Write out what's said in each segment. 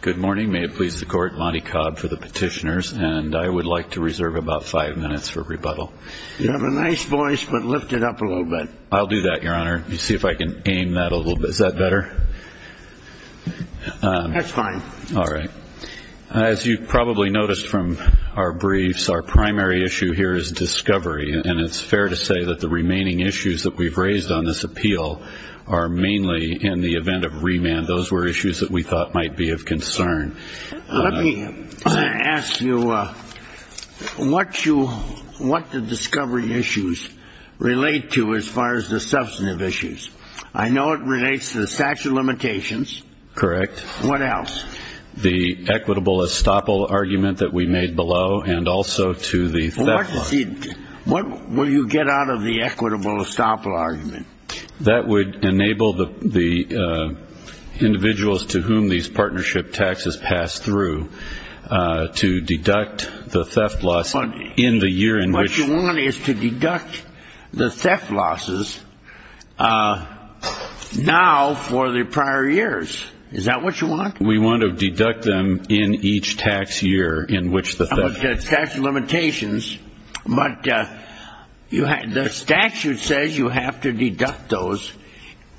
Good morning. May it please the Court, Monty Cobb for the petitioners, and I would like to reserve about five minutes for rebuttal. You have a nice voice, but lift it up a little bit. I'll do that, Your Honor. Let me see if I can aim that a little bit. Is that better? That's fine. All right. As you've probably noticed from our briefs, our primary issue here is discovery, and it's fair to say that the remaining issues that we've raised on this appeal are mainly in the event of remand. Those were issues that we thought might be of concern. Let me ask you what the discovery issues relate to as far as the substantive issues. I know it relates to the statute of limitations. Correct. What else? The equitable estoppel argument that we made below and also to the theft law. What will you get out of the equitable estoppel argument? That would enable the individuals to whom these partnership taxes pass through to deduct the theft loss in the year in which. What you want is to deduct the theft losses now for the prior years. Is that what you want? We want to deduct them in each tax year in which the theft. The statute of limitations, but the statute says you have to deduct those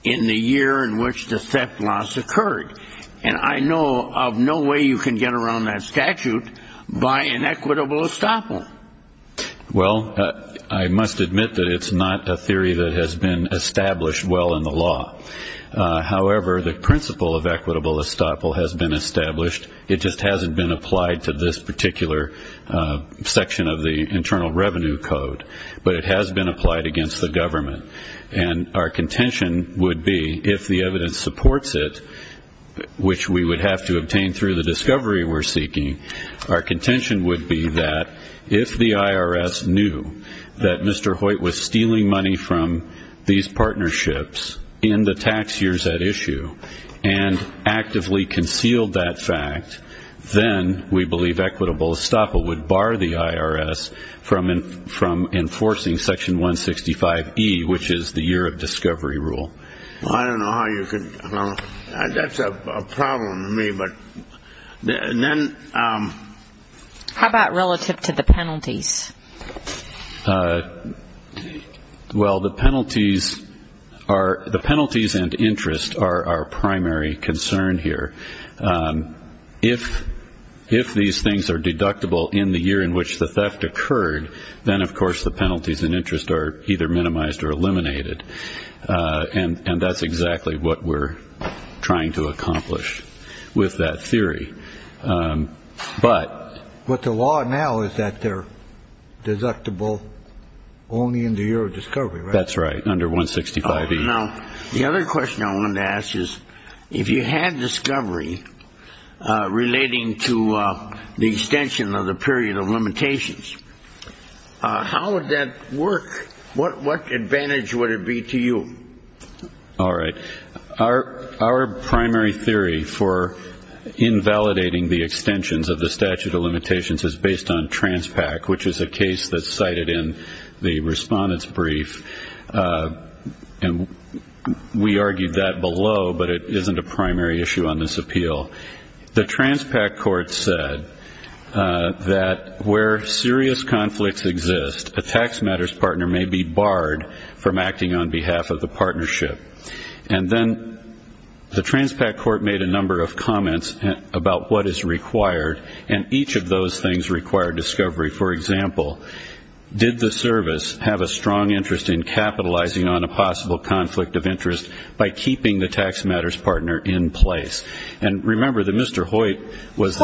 in the year in which the theft loss occurred. And I know of no way you can get around that statute by an equitable estoppel. Well, I must admit that it's not a theory that has been established well in the law. However, the principle of equitable estoppel has been established. It just hasn't been applied to this particular section of the Internal Revenue Code. But it has been applied against the government. And our contention would be if the evidence supports it, which we would have to obtain through the discovery we're seeking, our contention would be that if the IRS knew that Mr. Hoyt was stealing money from these partnerships in the tax years at issue and actively concealed that fact, then we believe equitable estoppel would bar the IRS from enforcing Section 165E, which is the year of discovery rule. Well, I don't know how you could – that's a problem to me, but then – How about relative to the penalties? Well, the penalties are – the penalties and interest are our primary concern here. If these things are deductible in the year in which the theft occurred, then of course the penalties and interest are either minimized or eliminated. And that's exactly what we're trying to accomplish with that theory. But the law now is that they're deductible only in the year of discovery, right? That's right, under 165E. Now, the other question I wanted to ask is if you had discovery relating to the extension of the period of limitations, how would that work? What advantage would it be to you? All right. Our primary theory for invalidating the extensions of the statute of limitations is based on Transpac, which is a case that's cited in the respondent's brief. And we argued that below, but it isn't a primary issue on this appeal. The Transpac court said that where serious conflicts exist, a tax matters partner may be barred from acting on behalf of the partnership. And then the Transpac court made a number of comments about what is required, and each of those things require discovery. For example, did the service have a strong interest in capitalizing on a possible conflict of interest by keeping the tax matters partner in place? And remember that Mr. Hoyt was –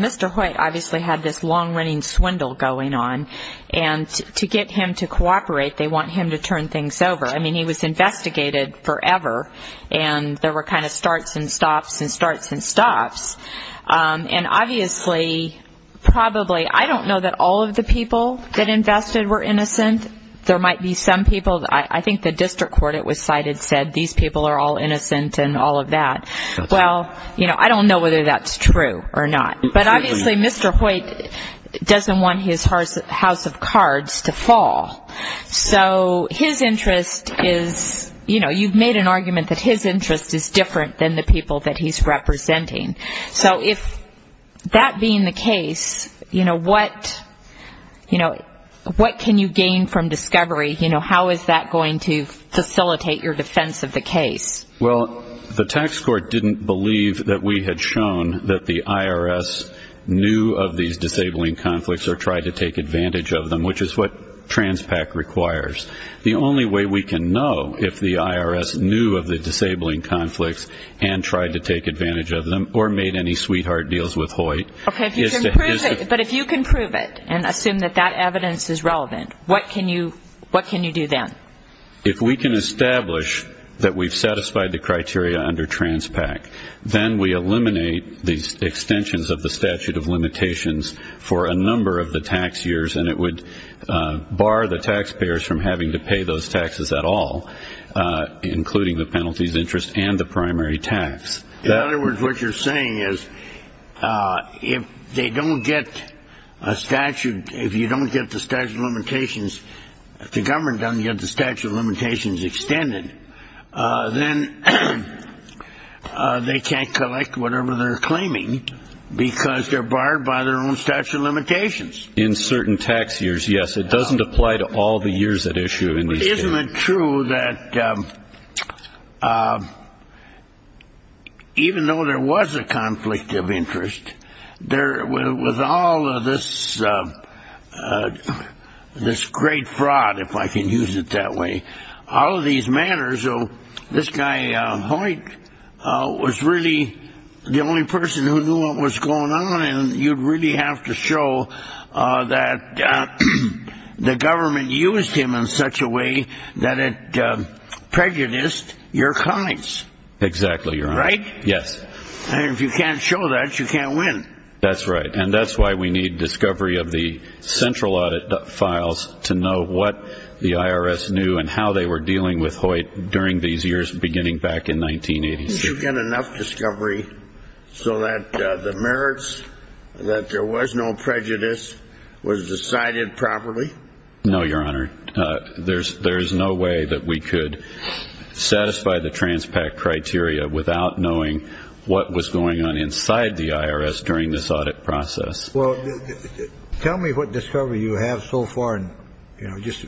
Mr. Hoyt obviously had this long-running swindle going on. And to get him to cooperate, they want him to turn things over. I mean, he was investigated forever, and there were kind of starts and stops and starts and stops. And obviously, probably – I don't know that all of the people that invested were innocent. There might be some people – I think the district court it was cited said these people are all innocent and all of that. Well, I don't know whether that's true or not. But obviously, Mr. Hoyt doesn't want his house of cards to fall. So his interest is – you've made an argument that his interest is different than the people that he's representing. So if that being the case, what can you gain from discovery? How is that going to facilitate your defense of the case? Well, the tax court didn't believe that we had shown that the IRS knew of these disabling conflicts or tried to take advantage of them, which is what TransPAC requires. The only way we can know if the IRS knew of the disabling conflicts and tried to take advantage of them or made any sweetheart deals with Hoyt is to – Okay, but if you can prove it and assume that that evidence is relevant, what can you do then? If we can establish that we've satisfied the criteria under TransPAC, then we eliminate the extensions of the statute of limitations for a number of the tax years, and it would bar the taxpayers from having to pay those taxes at all, including the penalties, interest, and the primary tax. In other words, what you're saying is if they don't get a statute – if the government doesn't get the statute of limitations extended, then they can't collect whatever they're claiming because they're barred by their own statute of limitations. In certain tax years, yes. It doesn't apply to all the years at issue in these cases. Isn't it true that even though there was a conflict of interest, with all of this great fraud, if I can use it that way, all of these matters, this guy Hoyt was really the only person who knew what was going on, then you'd really have to show that the government used him in such a way that it prejudiced your clients. Exactly, Your Honor. Right? Yes. And if you can't show that, you can't win. That's right, and that's why we need discovery of the central audit files to know what the IRS knew and how they were dealing with Hoyt during these years beginning back in 1986. Didn't you get enough discovery so that the merits, that there was no prejudice, was decided properly? No, Your Honor. There's no way that we could satisfy the Transpac criteria without knowing what was going on inside the IRS during this audit process. Well, tell me what discovery you have so far, just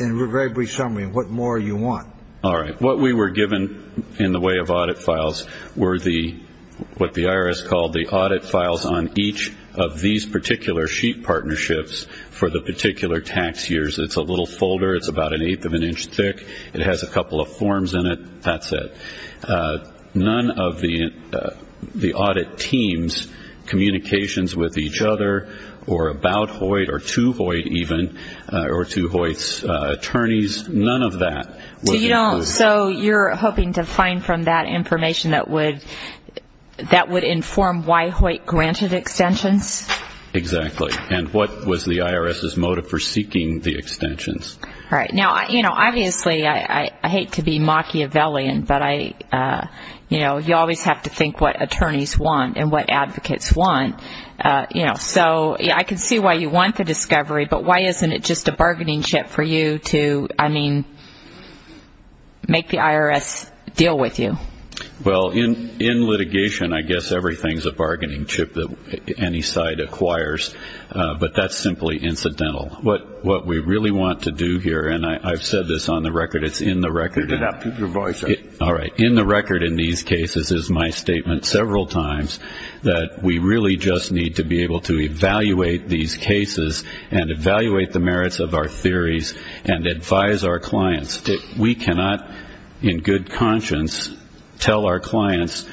in a very brief summary, what more you want. All right, what we were given in the way of audit files were what the IRS called the audit files on each of these particular sheet partnerships for the particular tax years. It's a little folder. It's about an eighth of an inch thick. It has a couple of forms in it. That's it. None of the audit teams' communications with each other or about Hoyt or to Hoyt even or to Hoyt's attorneys, none of that. So you're hoping to find from that information that would inform why Hoyt granted extensions? Exactly. And what was the IRS's motive for seeking the extensions? Now, obviously, I hate to be Machiavellian, but you always have to think what attorneys want and what advocates want. So I can see why you want the discovery, but why isn't it just a bargaining chip for you to, I mean, make the IRS deal with you? Well, in litigation, I guess everything is a bargaining chip that any side acquires. But that's simply incidental. What we really want to do here, and I've said this on the record, it's in the record. All right. In the record in these cases is my statement several times that we really just need to be able to evaluate these cases and evaluate the merits of our theories and advise our clients. We cannot in good conscience tell our clients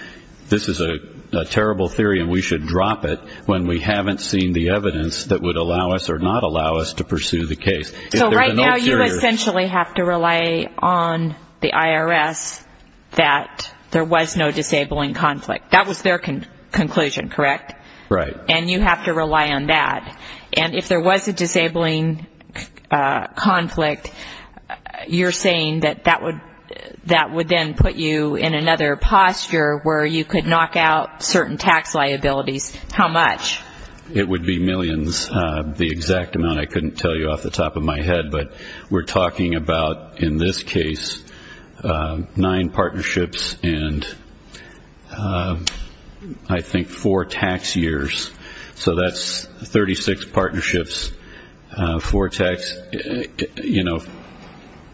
this is a terrible theory and we should drop it when we haven't seen the evidence that would allow us or not allow us to pursue the case. So right now you essentially have to rely on the IRS that there was no disabling conflict. That was their conclusion, correct? Right. And you have to rely on that. And if there was a disabling conflict, you're saying that that would then put you in another posture where you could knock out certain tax liabilities. How much? It would be millions, the exact amount I couldn't tell you off the top of my head. But we're talking about, in this case, nine partnerships and I think four tax years. So that's 36 partnerships for tax, you know,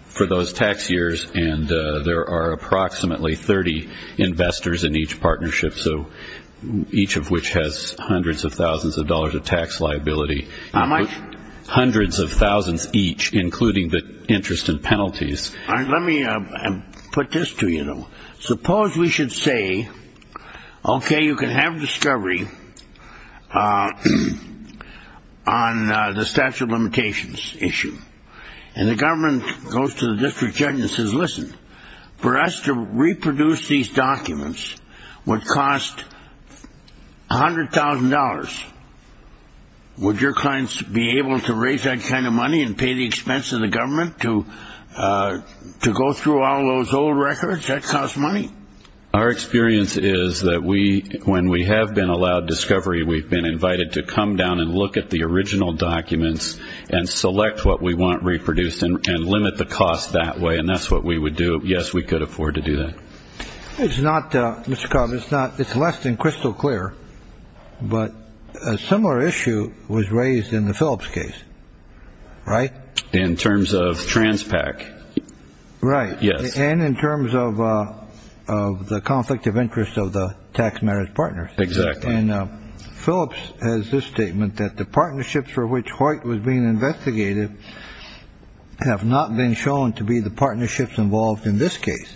for those tax years. And there are approximately 30 investors in each partnership, so each of which has hundreds of thousands of dollars of tax liability. How much? Hundreds of thousands each, including the interest and penalties. All right. Let me put this to you. Suppose we should say, okay, you can have discovery on the statute of limitations issue, and the government goes to the district judge and says, listen, for us to reproduce these documents would cost $100,000. Would your clients be able to raise that kind of money and pay the expense of the government to go through all those old records that cost money? Our experience is that when we have been allowed discovery, we've been invited to come down and look at the original documents and select what we want reproduced and limit the cost that way, and that's what we would do. Yes, we could afford to do that. It's not, Mr. Cobb, it's less than crystal clear, but a similar issue was raised in the Phillips case, right? In terms of Transpac. Right. Yes. And in terms of the conflict of interest of the tax marriage partners. Exactly. Phillips has this statement that the partnerships for which Hoyt was being investigated have not been shown to be the partnerships involved in this case,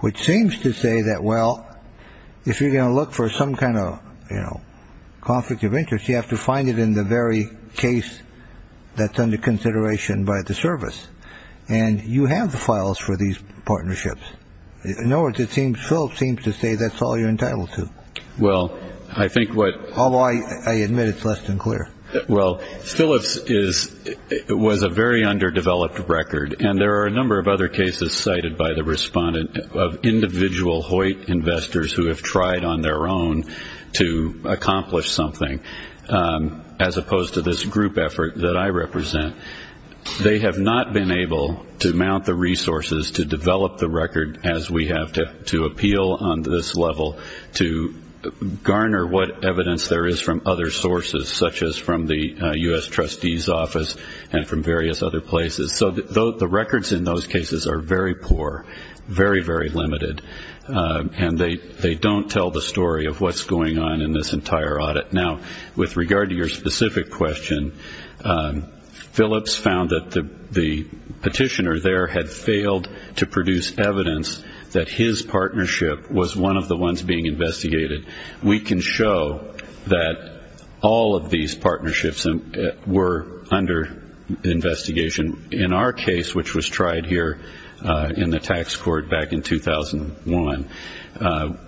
which seems to say that, well, if you're going to look for some kind of conflict of interest, you have to find it in the very case that's under consideration by the service. And you have the files for these partnerships. In other words, it seems Phillips seems to say that's all you're entitled to. Well, I think what. Although I admit it's less than clear. Well, Phillips was a very underdeveloped record, and there are a number of other cases cited by the respondent of individual Hoyt investors who have tried on their own to accomplish something, as opposed to this group effort that I represent. They have not been able to mount the resources to develop the record as we have to appeal on this level to garner what evidence there is from other sources, such as from the U.S. trustee's office and from various other places. So the records in those cases are very poor, very, very limited. And they don't tell the story of what's going on in this entire audit. Now, with regard to your specific question, Phillips found that the petitioner there had failed to produce evidence that his partnership was one of the ones being investigated. We can show that all of these partnerships were under investigation. In our case, which was tried here in the tax court back in 2001,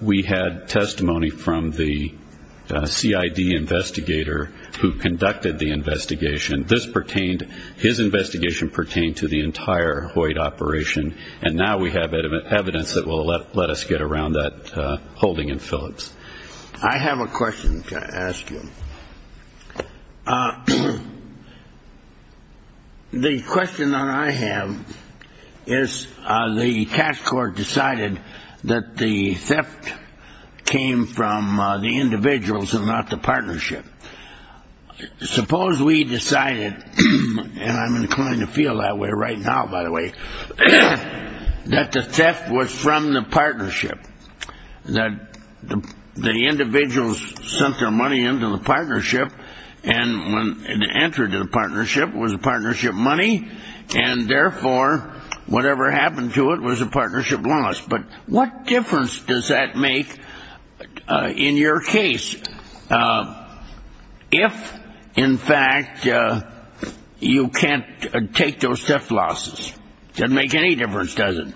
we had testimony from the CID investigator who conducted the investigation. This pertained, his investigation pertained to the entire Hoyt operation, and now we have evidence that will let us get around that holding in Phillips. I have a question to ask you. The question that I have is the tax court decided that the theft came from the individuals and not the partnership. Suppose we decided, and I'm inclined to feel that way right now, by the way, that the theft was from the partnership, that the individuals sent their money into the partnership, and the answer to the partnership was the partnership money, and therefore whatever happened to it was a partnership loss. But what difference does that make in your case if, in fact, you can't take those theft losses? It doesn't make any difference, does it?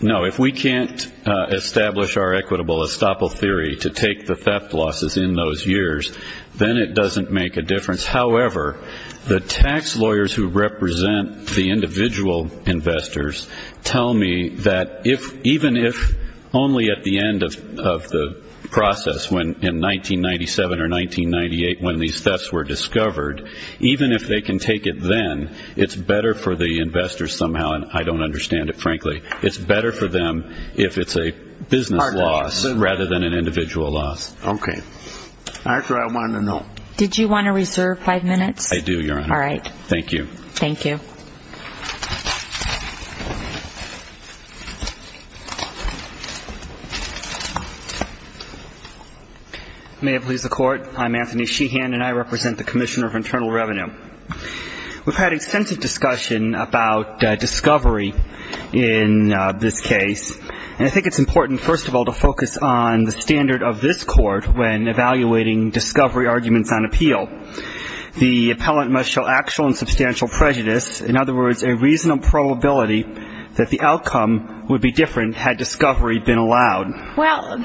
No. If we can't establish our equitable estoppel theory to take the theft losses in those years, then it doesn't make a difference. However, the tax lawyers who represent the individual investors tell me that even if only at the end of the process, in 1997 or 1998 when these thefts were discovered, even if they can take it then, it's better for the investors somehow, and I don't understand it, frankly. It's better for them if it's a business loss rather than an individual loss. Okay. That's what I wanted to know. Did you want to reserve five minutes? I do, Your Honor. All right. Thank you. Thank you. May it please the Court, I'm Anthony Sheehan, and I represent the Commissioner of Internal Revenue. We've had extensive discussion about discovery in this case, and I think it's important, first of all, to focus on the standard of this Court when evaluating discovery arguments on appeal. The appellant must show actual and substantial prejudice, in other words, a reasonable probability that the outcome would be different had discovery been allowed. Well, on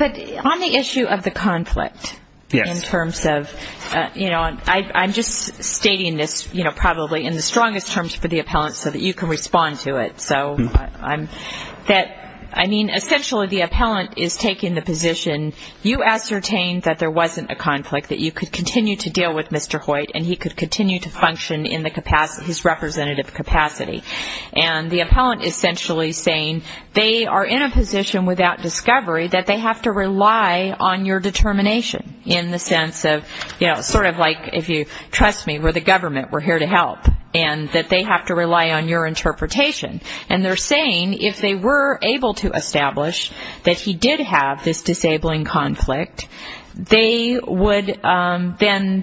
the issue of the conflict in terms of, you know, I'm just stating this, you know, probably in the strongest terms for the appellant so that you can respond to it. So, I mean, essentially the appellant is taking the position, you ascertained that there wasn't a conflict, that you could continue to deal with Mr. Hoyt and he could continue to function in his representative capacity. And the appellant is essentially saying they are in a position without discovery that they have to rely on your determination in the sense of, you know, sort of like if you trust me, we're the government, we're here to help, and that they have to rely on your interpretation. And they're saying if they were able to establish that he did have this disabling conflict, they would then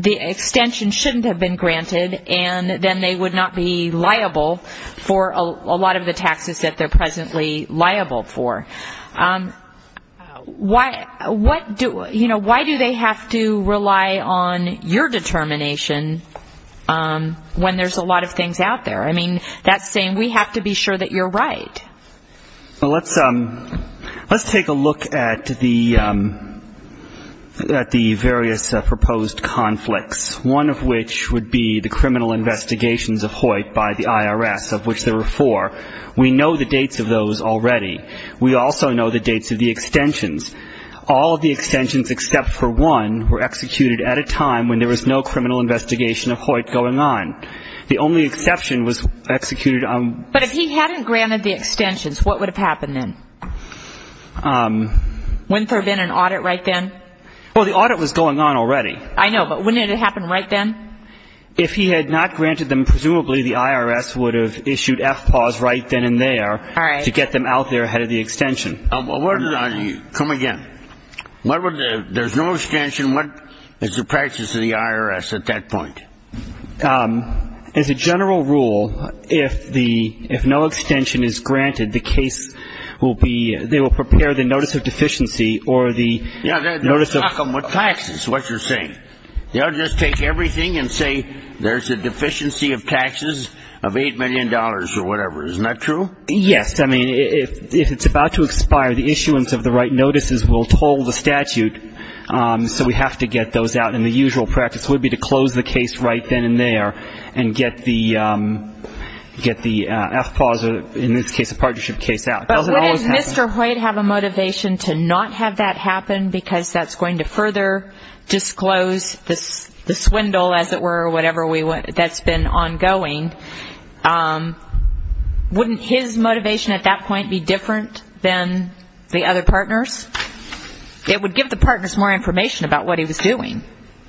the extension shouldn't have been granted, and then they would not be liable for a lot of the taxes that they're presently liable for. Why do they have to rely on your determination when there's a lot of things out there? I mean, that's saying we have to be sure that you're right. Well, let's take a look at the various proposed conflicts, one of which would be the criminal investigations of Hoyt by the IRS, of which there were four. We know the dates of those already. We also know the dates of the extensions. All of the extensions except for one were executed at a time when there was no criminal investigation of Hoyt going on. The only exception was executed on. But if he hadn't granted the extensions, what would have happened then? Wouldn't there have been an audit right then? Well, the audit was going on already. I know, but wouldn't it have happened right then? If he had not granted them, presumably the IRS would have issued FPAWS right then and there. All right. To get them out there ahead of the extension. Come again. There's no extension. What is the practice of the IRS at that point? As a general rule, if no extension is granted, the case will be, they will prepare the notice of deficiency or the notice of Yeah, they'll stock them with taxes, what you're saying. They'll just take everything and say there's a deficiency of taxes of $8 million or whatever. Isn't that true? Yes. I mean, if it's about to expire, the issuance of the right notices will toll the statute. So we have to get those out. And the usual practice would be to close the case right then and there and get the FPAWS or, in this case, a partnership case out. But wouldn't Mr. Hoyt have a motivation to not have that happen because that's going to further disclose the swindle, as it were, or whatever that's been ongoing? Wouldn't his motivation at that point be different than the other partners? It would give the partners more information about what he was doing.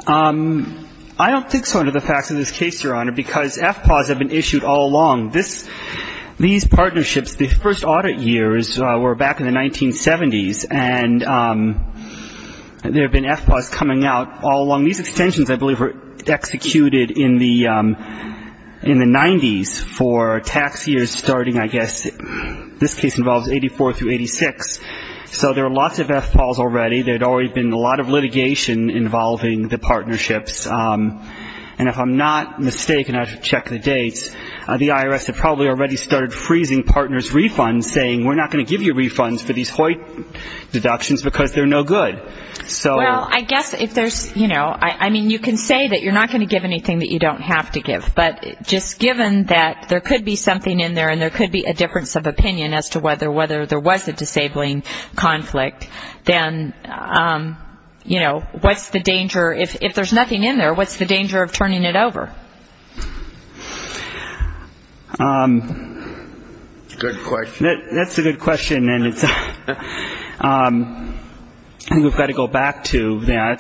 I don't think so under the facts of this case, Your Honor, because FPAWS have been issued all along. These partnerships, the first audit years were back in the 1970s, and there have been FPAWS coming out all along. These extensions, I believe, were executed in the 90s for tax years starting, I guess, this case involves 84 through 86. So there are lots of FPAWS already. There had already been a lot of litigation involving the partnerships. And if I'm not mistaken, I should check the dates, the IRS had probably already started freezing partners' refunds, saying we're not going to give you refunds for these Hoyt deductions because they're no good. Well, I guess if there's, you know, I mean, you can say that you're not going to give anything that you don't have to give, but just given that there could be something in there and there could be a difference of opinion as to whether there was a disabling conflict, then, you know, what's the danger? If there's nothing in there, what's the danger of turning it over? Good question. That's a good question, and we've got to go back to that.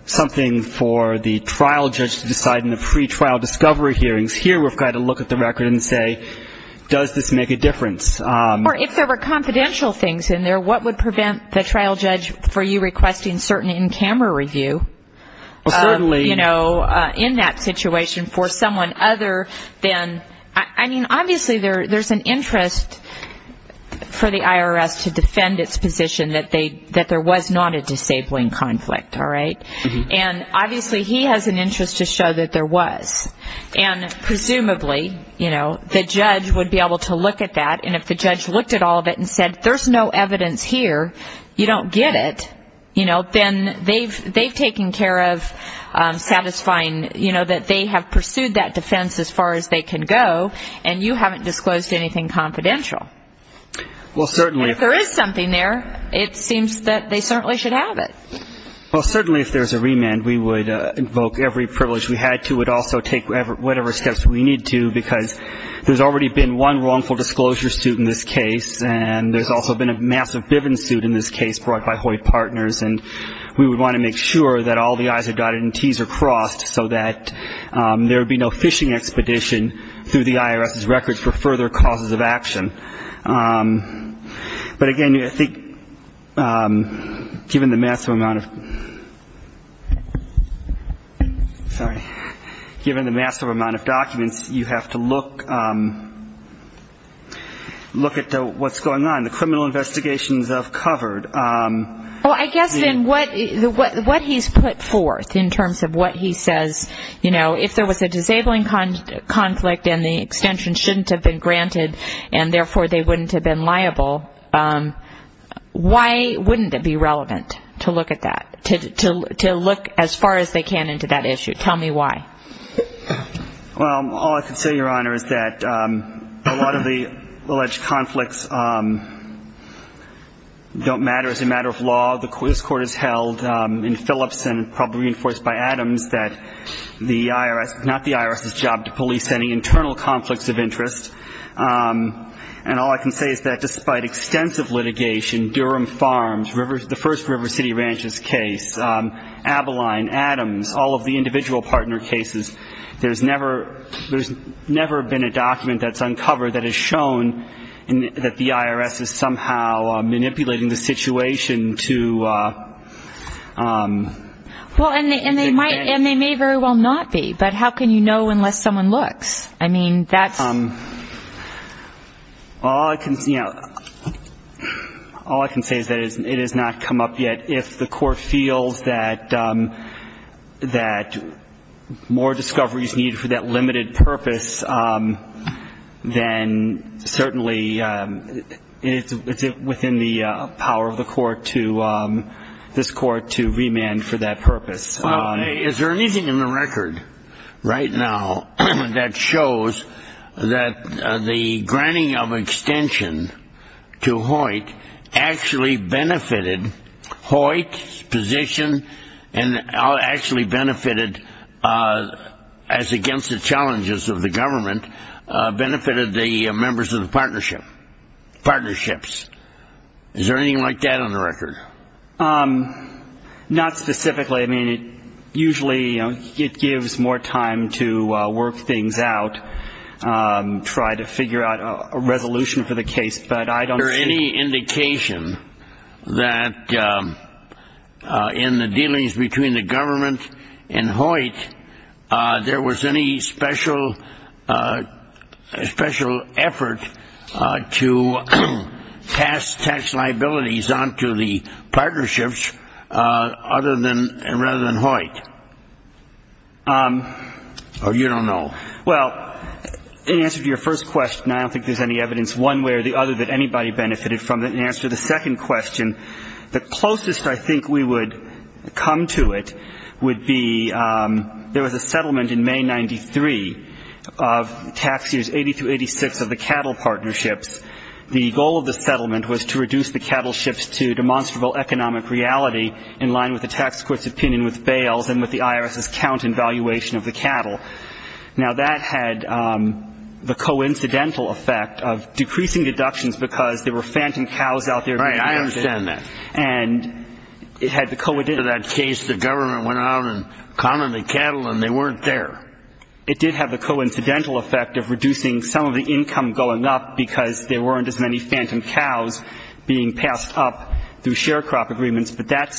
It's something for the trial judge to decide in the pretrial discovery hearings. Here we've got to look at the record and say, does this make a difference? Or if there were confidential things in there, what would prevent the trial judge from you requesting certain in-camera review, you know, in that situation for someone other than, I mean, obviously there's an interest for the IRS to defend its position that there was not a disabling conflict, all right? And obviously he has an interest to show that there was. And presumably, you know, the judge would be able to look at that, and if the judge looked at all of it and said there's no evidence here, you don't get it, you know, then they've taken care of satisfying, you know, that they have pursued that defense as far as they can go, and you haven't disclosed anything confidential. If there is something there, it seems that they certainly should have it. Well, certainly if there's a remand, we would invoke every privilege we had to. We would also take whatever steps we need to, because there's already been one wrongful disclosure suit in this case, and there's also been a massive Bivens suit in this case brought by Hoyt Partners, and we would want to make sure that all the I's are dotted and T's are crossed so that there would be no phishing expedition through the IRS's records for further causes of action. But again, I think given the massive amount of documents, you have to look at what's going on. The criminal investigations I've covered. Well, I guess then what he's put forth in terms of what he says, you know, if there was a disabling conflict and the extension shouldn't have been granted and therefore they wouldn't have been liable, why wouldn't it be relevant to look at that, to look as far as they can into that issue? Tell me why. Well, all I can say, Your Honor, is that a lot of the alleged conflicts don't matter. It's a matter of law. This Court has held in Phillips and probably reinforced by Adams that the IRS, not the IRS's job to police any internal conflicts of interest. And all I can say is that despite extensive litigation, Durham Farms, the first River City Ranches case, Abiline, Adams, all of the individual partner cases, there's never been a document that's uncovered that has shown that the IRS is somehow manipulating the situation to... Well, and they may very well not be, but how can you know unless someone looks? I mean, that's... All I can say is that it has not come up yet. If the Court feels that more discovery is needed for that limited purpose, then certainly it's within the power of this Court to remand for that purpose. Well, is there anything in the record right now that shows that the granting of extension to Hoyt actually benefited Hoyt's position and actually benefited, as against the challenges of the government, benefited the members of the partnership, partnerships? Is there anything like that on the record? Not specifically. I mean, usually it gives more time to work things out, try to figure out a resolution for the case. But I don't see... Is there any indication that in the dealings between the government and Hoyt, there was any special effort to pass tax liabilities on to the partnerships rather than Hoyt? Or you don't know? Well, in answer to your first question, I don't think there's any evidence one way or the other that anybody benefited from it. In answer to the second question, the closest I think we would come to it would be there was a settlement in May 1993 of tax years 80 through 86 of the cattle partnerships. The goal of the settlement was to reduce the cattle ships to demonstrable economic reality in line with the tax court's opinion with bails and with the IRS's count and valuation of the cattle. Now, that had the coincidental effect of decreasing deductions because there were phantom cows out there. Right. I understand that. And it had the... In that case, the government went out and commonly cattled and they weren't there. It did have the coincidental effect of reducing some of the income going up because there weren't as many phantom cows being passed up through share crop agreements. But that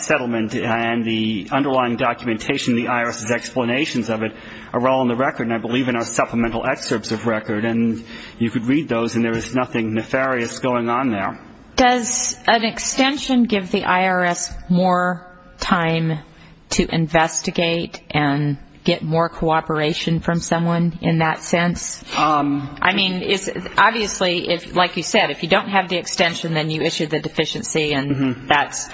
settlement and the underlying documentation of the IRS's explanations of it are all in the record, and I believe in our supplemental excerpts of record. And you could read those, and there was nothing nefarious going on there. Does an extension give the IRS more time to investigate and get more cooperation from someone in that sense? I mean, obviously, like you said, if you don't have the extension, then you issue the deficiency and that's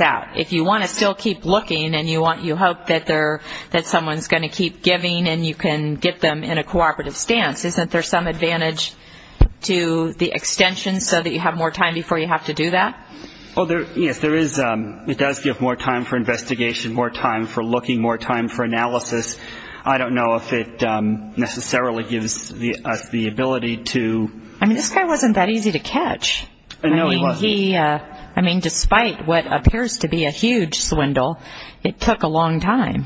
out. If you want to still keep looking and you hope that someone's going to keep giving and you can get them in a cooperative stance, isn't there some advantage to the extension so that you have more time before you have to do that? Yes, there is. It does give more time for investigation, more time for looking, more time for analysis. I don't know if it necessarily gives us the ability to... I mean, this guy wasn't that easy to catch. No, he wasn't. I mean, despite what appears to be a huge swindle, it took a long time.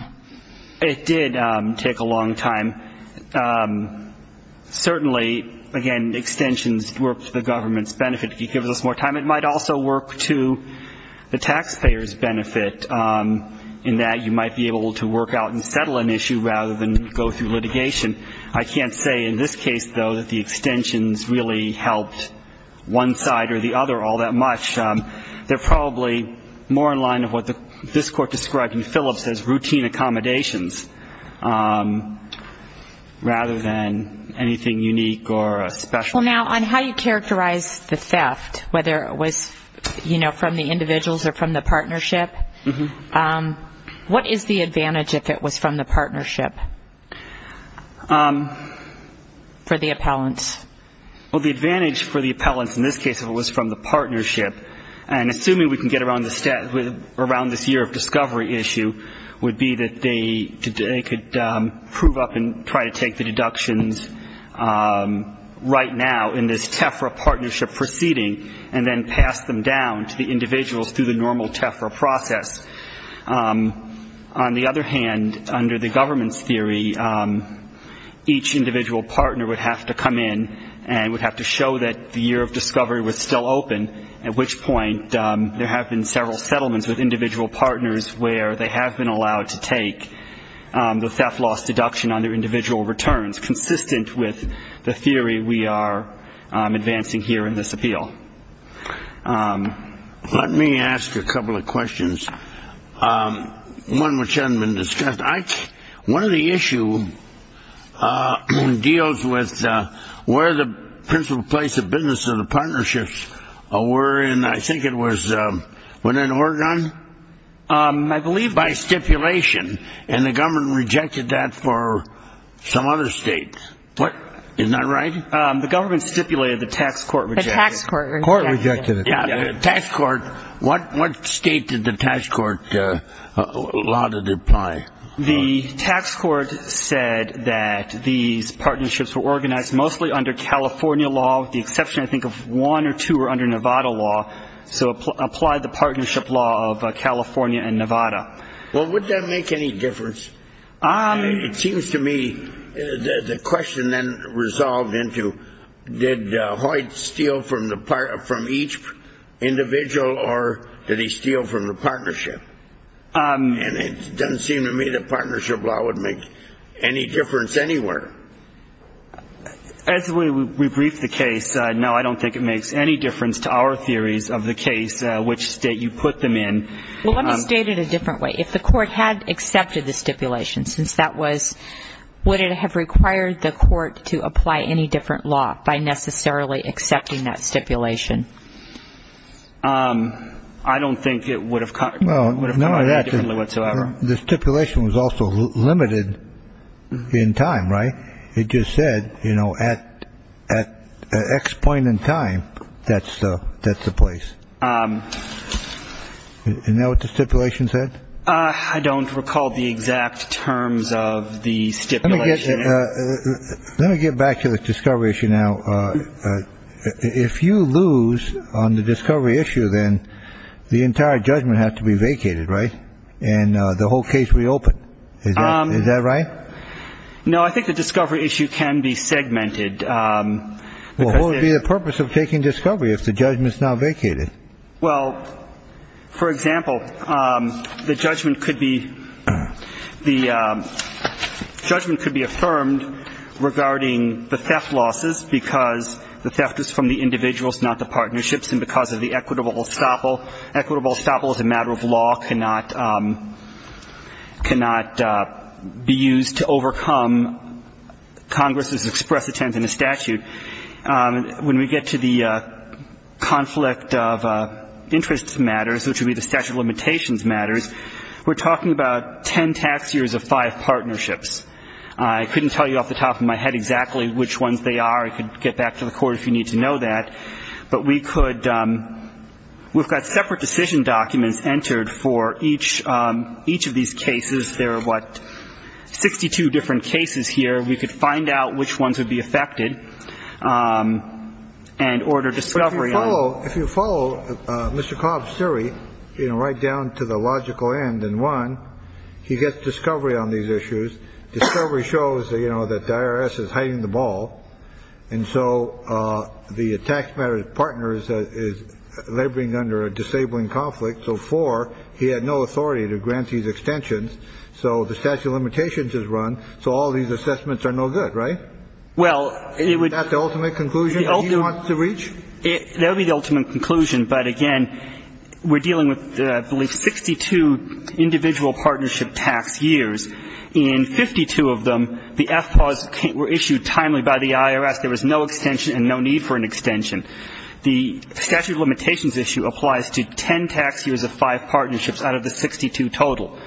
It did take a long time. Certainly, again, extensions work to the government's benefit. It gives us more time. It might also work to the taxpayer's benefit in that you might be able to work out and settle an issue rather than go through litigation. I can't say in this case, though, that the extensions really helped one side or the other all that much. They're probably more in line of what this court described in Phillips as routine accommodations rather than anything unique or special. Well, now, on how you characterize the theft, whether it was, you know, from the individuals or from the partnership, what is the advantage if it was from the partnership for the appellants? Well, the advantage for the appellants in this case if it was from the partnership, and assuming we can get around this year of discovery issue, would be that they could prove up and try to take the deductions right now in this TEFRA partnership proceeding and then pass them down to the individuals through the normal TEFRA process. On the other hand, under the government's theory, each individual partner would have to come in and would have to show that the year of discovery was still open, at which point there have been several settlements with individual partners where they have been allowed to take the theft loss deduction on their individual returns, and that's consistent with the theory we are advancing here in this appeal. Let me ask a couple of questions, one which hasn't been discussed. One of the issues deals with where the principal place of business of the partnerships were, and I think it was within Oregon? By stipulation, and the government rejected that for some other states. Isn't that right? The government stipulated, the tax court rejected it. The tax court rejected it. The tax court, what state did the tax court allow it to apply? The tax court said that these partnerships were organized mostly under California law, with the exception, I think, of one or two were under Nevada law, so it applied the partnership law of California and Nevada. Well, would that make any difference? It seems to me the question then resolved into did Hoyt steal from each individual, or did he steal from the partnership? And it doesn't seem to me the partnership law would make any difference anywhere. As we brief the case, no, I don't think it makes any difference to our theories of the case, which state you put them in. Well, let me state it a different way. If the court had accepted the stipulation, since that was, would it have required the court to apply any different law by necessarily accepting that stipulation? I don't think it would have come out any differently whatsoever. The stipulation was also limited in time, right? It just said, you know, at X point in time, that's the place. Is that what the stipulation said? I don't recall the exact terms of the stipulation. Let me get back to the discovery issue now. If you lose on the discovery issue, then the entire judgment has to be vacated, right? And the whole case reopened. Is that right? No, I think the discovery issue can be segmented. Well, what would be the purpose of taking discovery if the judgment's not vacated? Well, for example, the judgment could be affirmed regarding the theft losses because the theft is from the individuals, not the partnerships, and because of the equitable estoppel. Equitable estoppel is a matter of law, cannot be used to overcome Congress's express intent in the statute. When we get to the conflict of interest matters, which would be the statute of limitations matters, we're talking about ten tax years of five partnerships. I couldn't tell you off the top of my head exactly which ones they are. I could get back to the court if you need to know that. But we could. We've got separate decision documents entered for each each of these cases. There are what, 62 different cases here. We could find out which ones would be affected and order discovery. If you follow Mr. Cobb's theory, you know, right down to the logical end. And one, he gets discovery on these issues. Discovery shows that, you know, the IRS is hiding the ball. And so the tax matters partner is laboring under a disabling conflict. So four, he had no authority to grant these extensions. So the statute of limitations is run. So all these assessments are no good, right? Is that the ultimate conclusion that he wants to reach? That would be the ultimate conclusion. But, again, we're dealing with, I believe, 62 individual partnership tax years. In 52 of them, the FPAWs were issued timely by the IRS. There was no extension and no need for an extension. The statute of limitations issue applies to ten tax years of five partnerships out of the 62 total.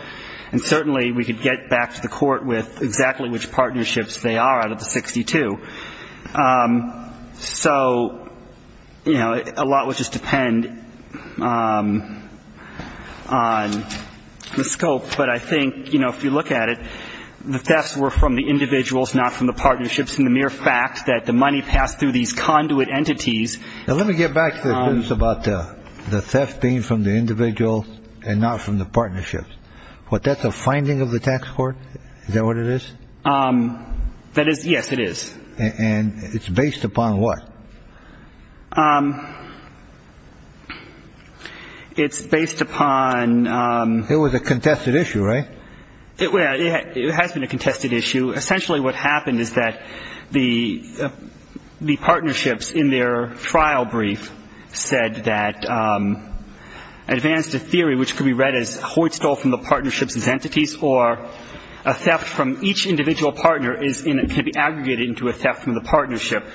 And certainly we could get back to the court with exactly which partnerships they are out of the 62. So, you know, a lot would just depend on the scope. But I think, you know, if you look at it, the thefts were from the individuals, not from the partnerships in the mere fact that the money passed through these conduit entities. Let me get back to this about the theft being from the individual and not from the partnerships. But that's a finding of the tax court. Is that what it is? That is. Yes, it is. And it's based upon what? It's based upon. It has been a contested issue. Essentially what happened is that the partnerships in their trial brief said that advance to theory, which could be read as Hoyt stole from the partnerships as entities, or a theft from each individual partner can be aggregated into a theft from the partnership.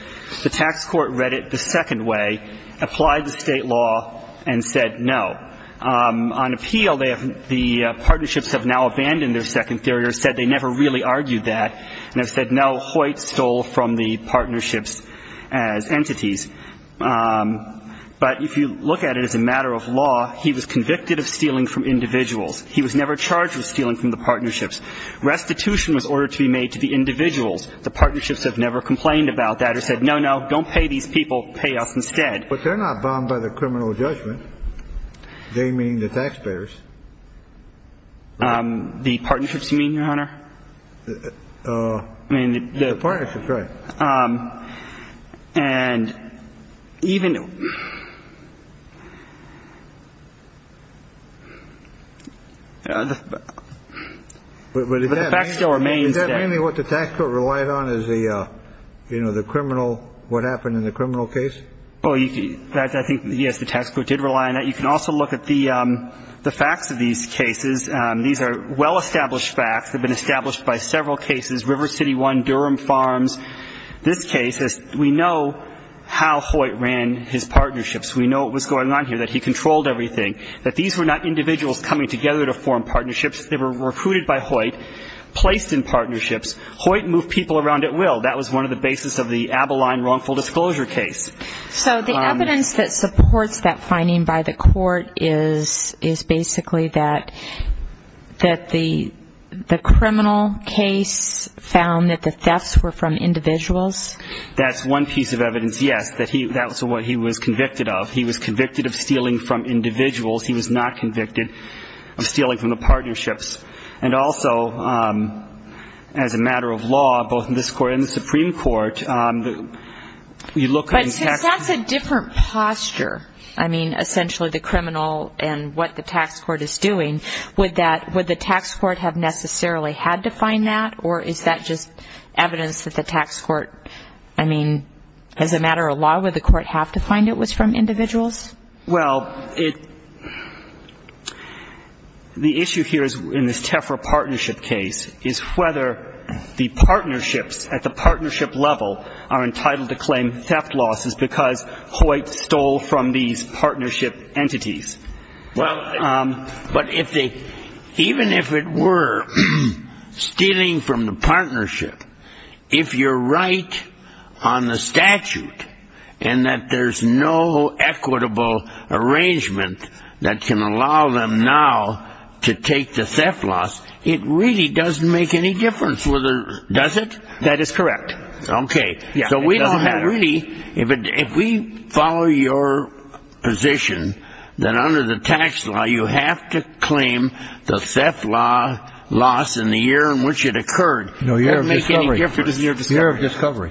The tax court read it the second way, applied the state law, and said no. On appeal, the partnerships have now abandoned their second theory or said they never really argued that. And have said no, Hoyt stole from the partnerships as entities. But if you look at it as a matter of law, he was convicted of stealing from individuals. He was never charged with stealing from the partnerships. Restitution was ordered to be made to the individuals. The partnerships have never complained about that or said no, no, don't pay these people, pay us instead. But they're not bound by the criminal judgment. They mean the taxpayers. The partnerships mean, your honor. I mean, the partnerships. Right. And even. But the fact still remains that mainly what the tax court relied on is the, you know, the criminal. What happened in the criminal case? Well, I think, yes, the tax court did rely on that. You can also look at the facts of these cases. These are well-established facts have been established by several cases. River City One, Durham Farms. This case, we know how Hoyt ran his partnerships. We know what was going on here, that he controlled everything. That these were not individuals coming together to form partnerships. They were recruited by Hoyt, placed in partnerships. Hoyt moved people around at will. That was one of the basis of the Abiline wrongful disclosure case. So the evidence that supports that finding by the court is basically that the criminal case found that the thefts were from individuals? That's one piece of evidence, yes. That was what he was convicted of. He was convicted of stealing from individuals. And also, as a matter of law, both in this court and the Supreme Court, you look at the tax court. But since that's a different posture, I mean, essentially the criminal and what the tax court is doing, would the tax court have necessarily had to find that? Or is that just evidence that the tax court, I mean, as a matter of law, would the court have to find it was from individuals? Well, the issue here in this Tefra partnership case is whether the partnerships at the partnership level are entitled to claim theft losses because Hoyt stole from these partnership entities. But even if it were stealing from the partnership, if you're right on the statute and that there's no equitable arrangement that can allow them now to take the theft loss, it really doesn't make any difference, does it? That is correct. Okay. So we don't have any. If we follow your position, then under the tax law, you have to claim the theft loss in the year in which it occurred. No, year of discovery. It doesn't make any difference. Year of discovery.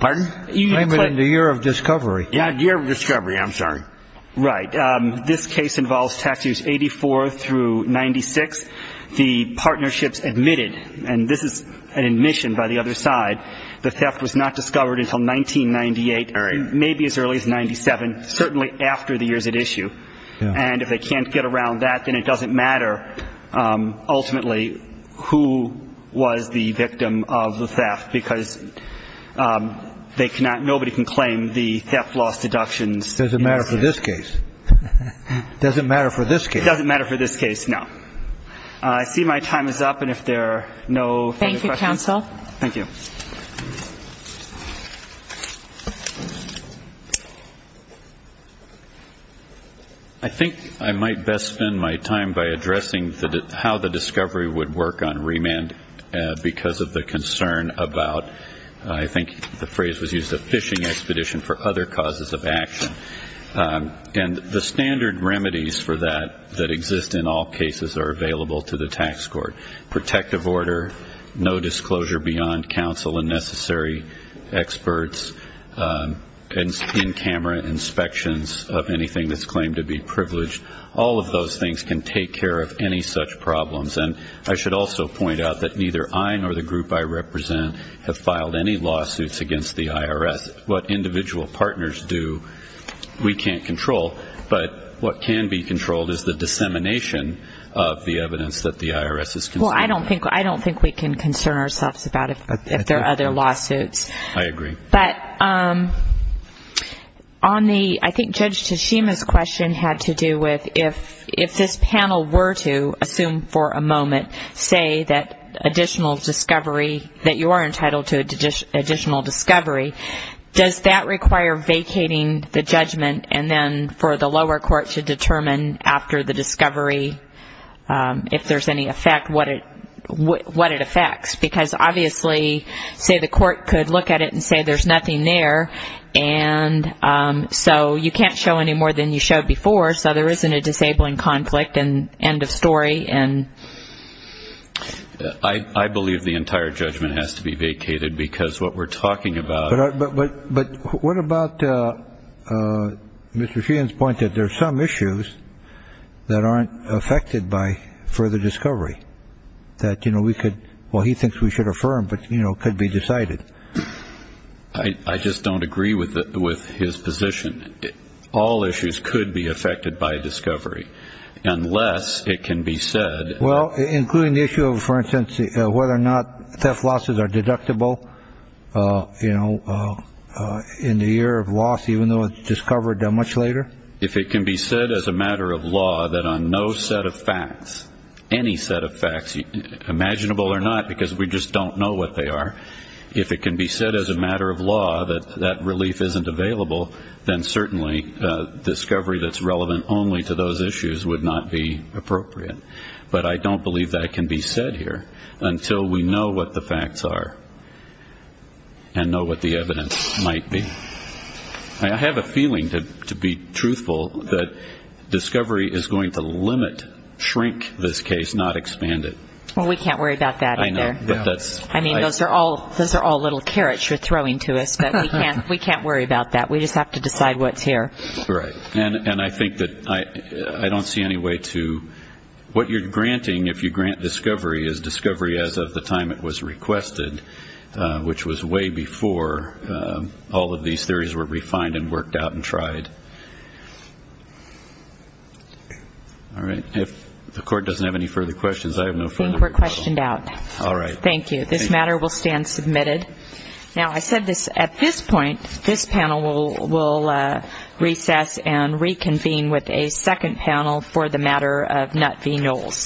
Pardon? Claim it in the year of discovery. Yeah, year of discovery. I'm sorry. Right. This case involves tax years 84 through 96. The partnerships admitted, and this is an admission by the other side. The theft was not discovered until 1998, maybe as early as 97, certainly after the years at issue. And if they can't get around that, then it doesn't matter ultimately who was the victim of the theft because nobody can claim the theft loss deductions. It doesn't matter for this case. It doesn't matter for this case. It doesn't matter for this case, no. I see my time is up. And if there are no further questions. Thank you, counsel. Thank you. I think I might best spend my time by addressing how the discovery would work on remand because of the concern about, I think the phrase was used, a fishing expedition for other causes of action. And the standard remedies for that that exist in all cases are available to the tax court, protective order, no disclosure beyond counsel and necessary experts, and in-camera inspections of anything that's claimed to be privileged. All of those things can take care of any such problems. And I should also point out that neither I nor the group I represent have filed any lawsuits against the IRS. What individual partners do, we can't control. But what can be controlled is the dissemination of the evidence that the IRS is concerned about. Well, I don't think we can concern ourselves about it if there are other lawsuits. I agree. But on the, I think Judge Tashima's question had to do with if this panel were to, assume for a moment, say that additional discovery, that you are entitled to additional discovery, does that require vacating the judgment and then for the lower court to determine after the discovery, if there's any effect, what it affects? Because obviously, say the court could look at it and say there's nothing there, and so you can't show any more than you showed before, so there isn't a disabling conflict, and end of story. I believe the entire judgment has to be vacated because what we're talking about. But what about Mr. Sheehan's point that there are some issues that aren't affected by further discovery? That, you know, we could, well, he thinks we should affirm, but, you know, could be decided. I just don't agree with his position. All issues could be affected by discovery unless it can be said. Well, including the issue of, for instance, whether or not theft losses are deductible, you know, in the year of loss even though it's discovered much later. If it can be said as a matter of law that on no set of facts, any set of facts, imaginable or not, because we just don't know what they are, if it can be said as a matter of law that that relief isn't available, then certainly discovery that's relevant only to those issues would not be appropriate. But I don't believe that can be said here until we know what the facts are and know what the evidence might be. I have a feeling, to be truthful, that discovery is going to limit, shrink this case, not expand it. Well, we can't worry about that either. I know. I mean, those are all little carrots you're throwing to us, but we can't worry about that. We just have to decide what's here. Right. And I think that I don't see any way to what you're granting if you grant discovery is discovery as of the time it was requested, which was way before all of these theories were refined and worked out and tried. All right. If the court doesn't have any further questions, I have no further questions. I think we're questioned out. All right. Thank you. This matter will stand submitted. Now, I said this at this point. This panel will recess and reconvene with a second panel for the matter of Nutt v. Knowles.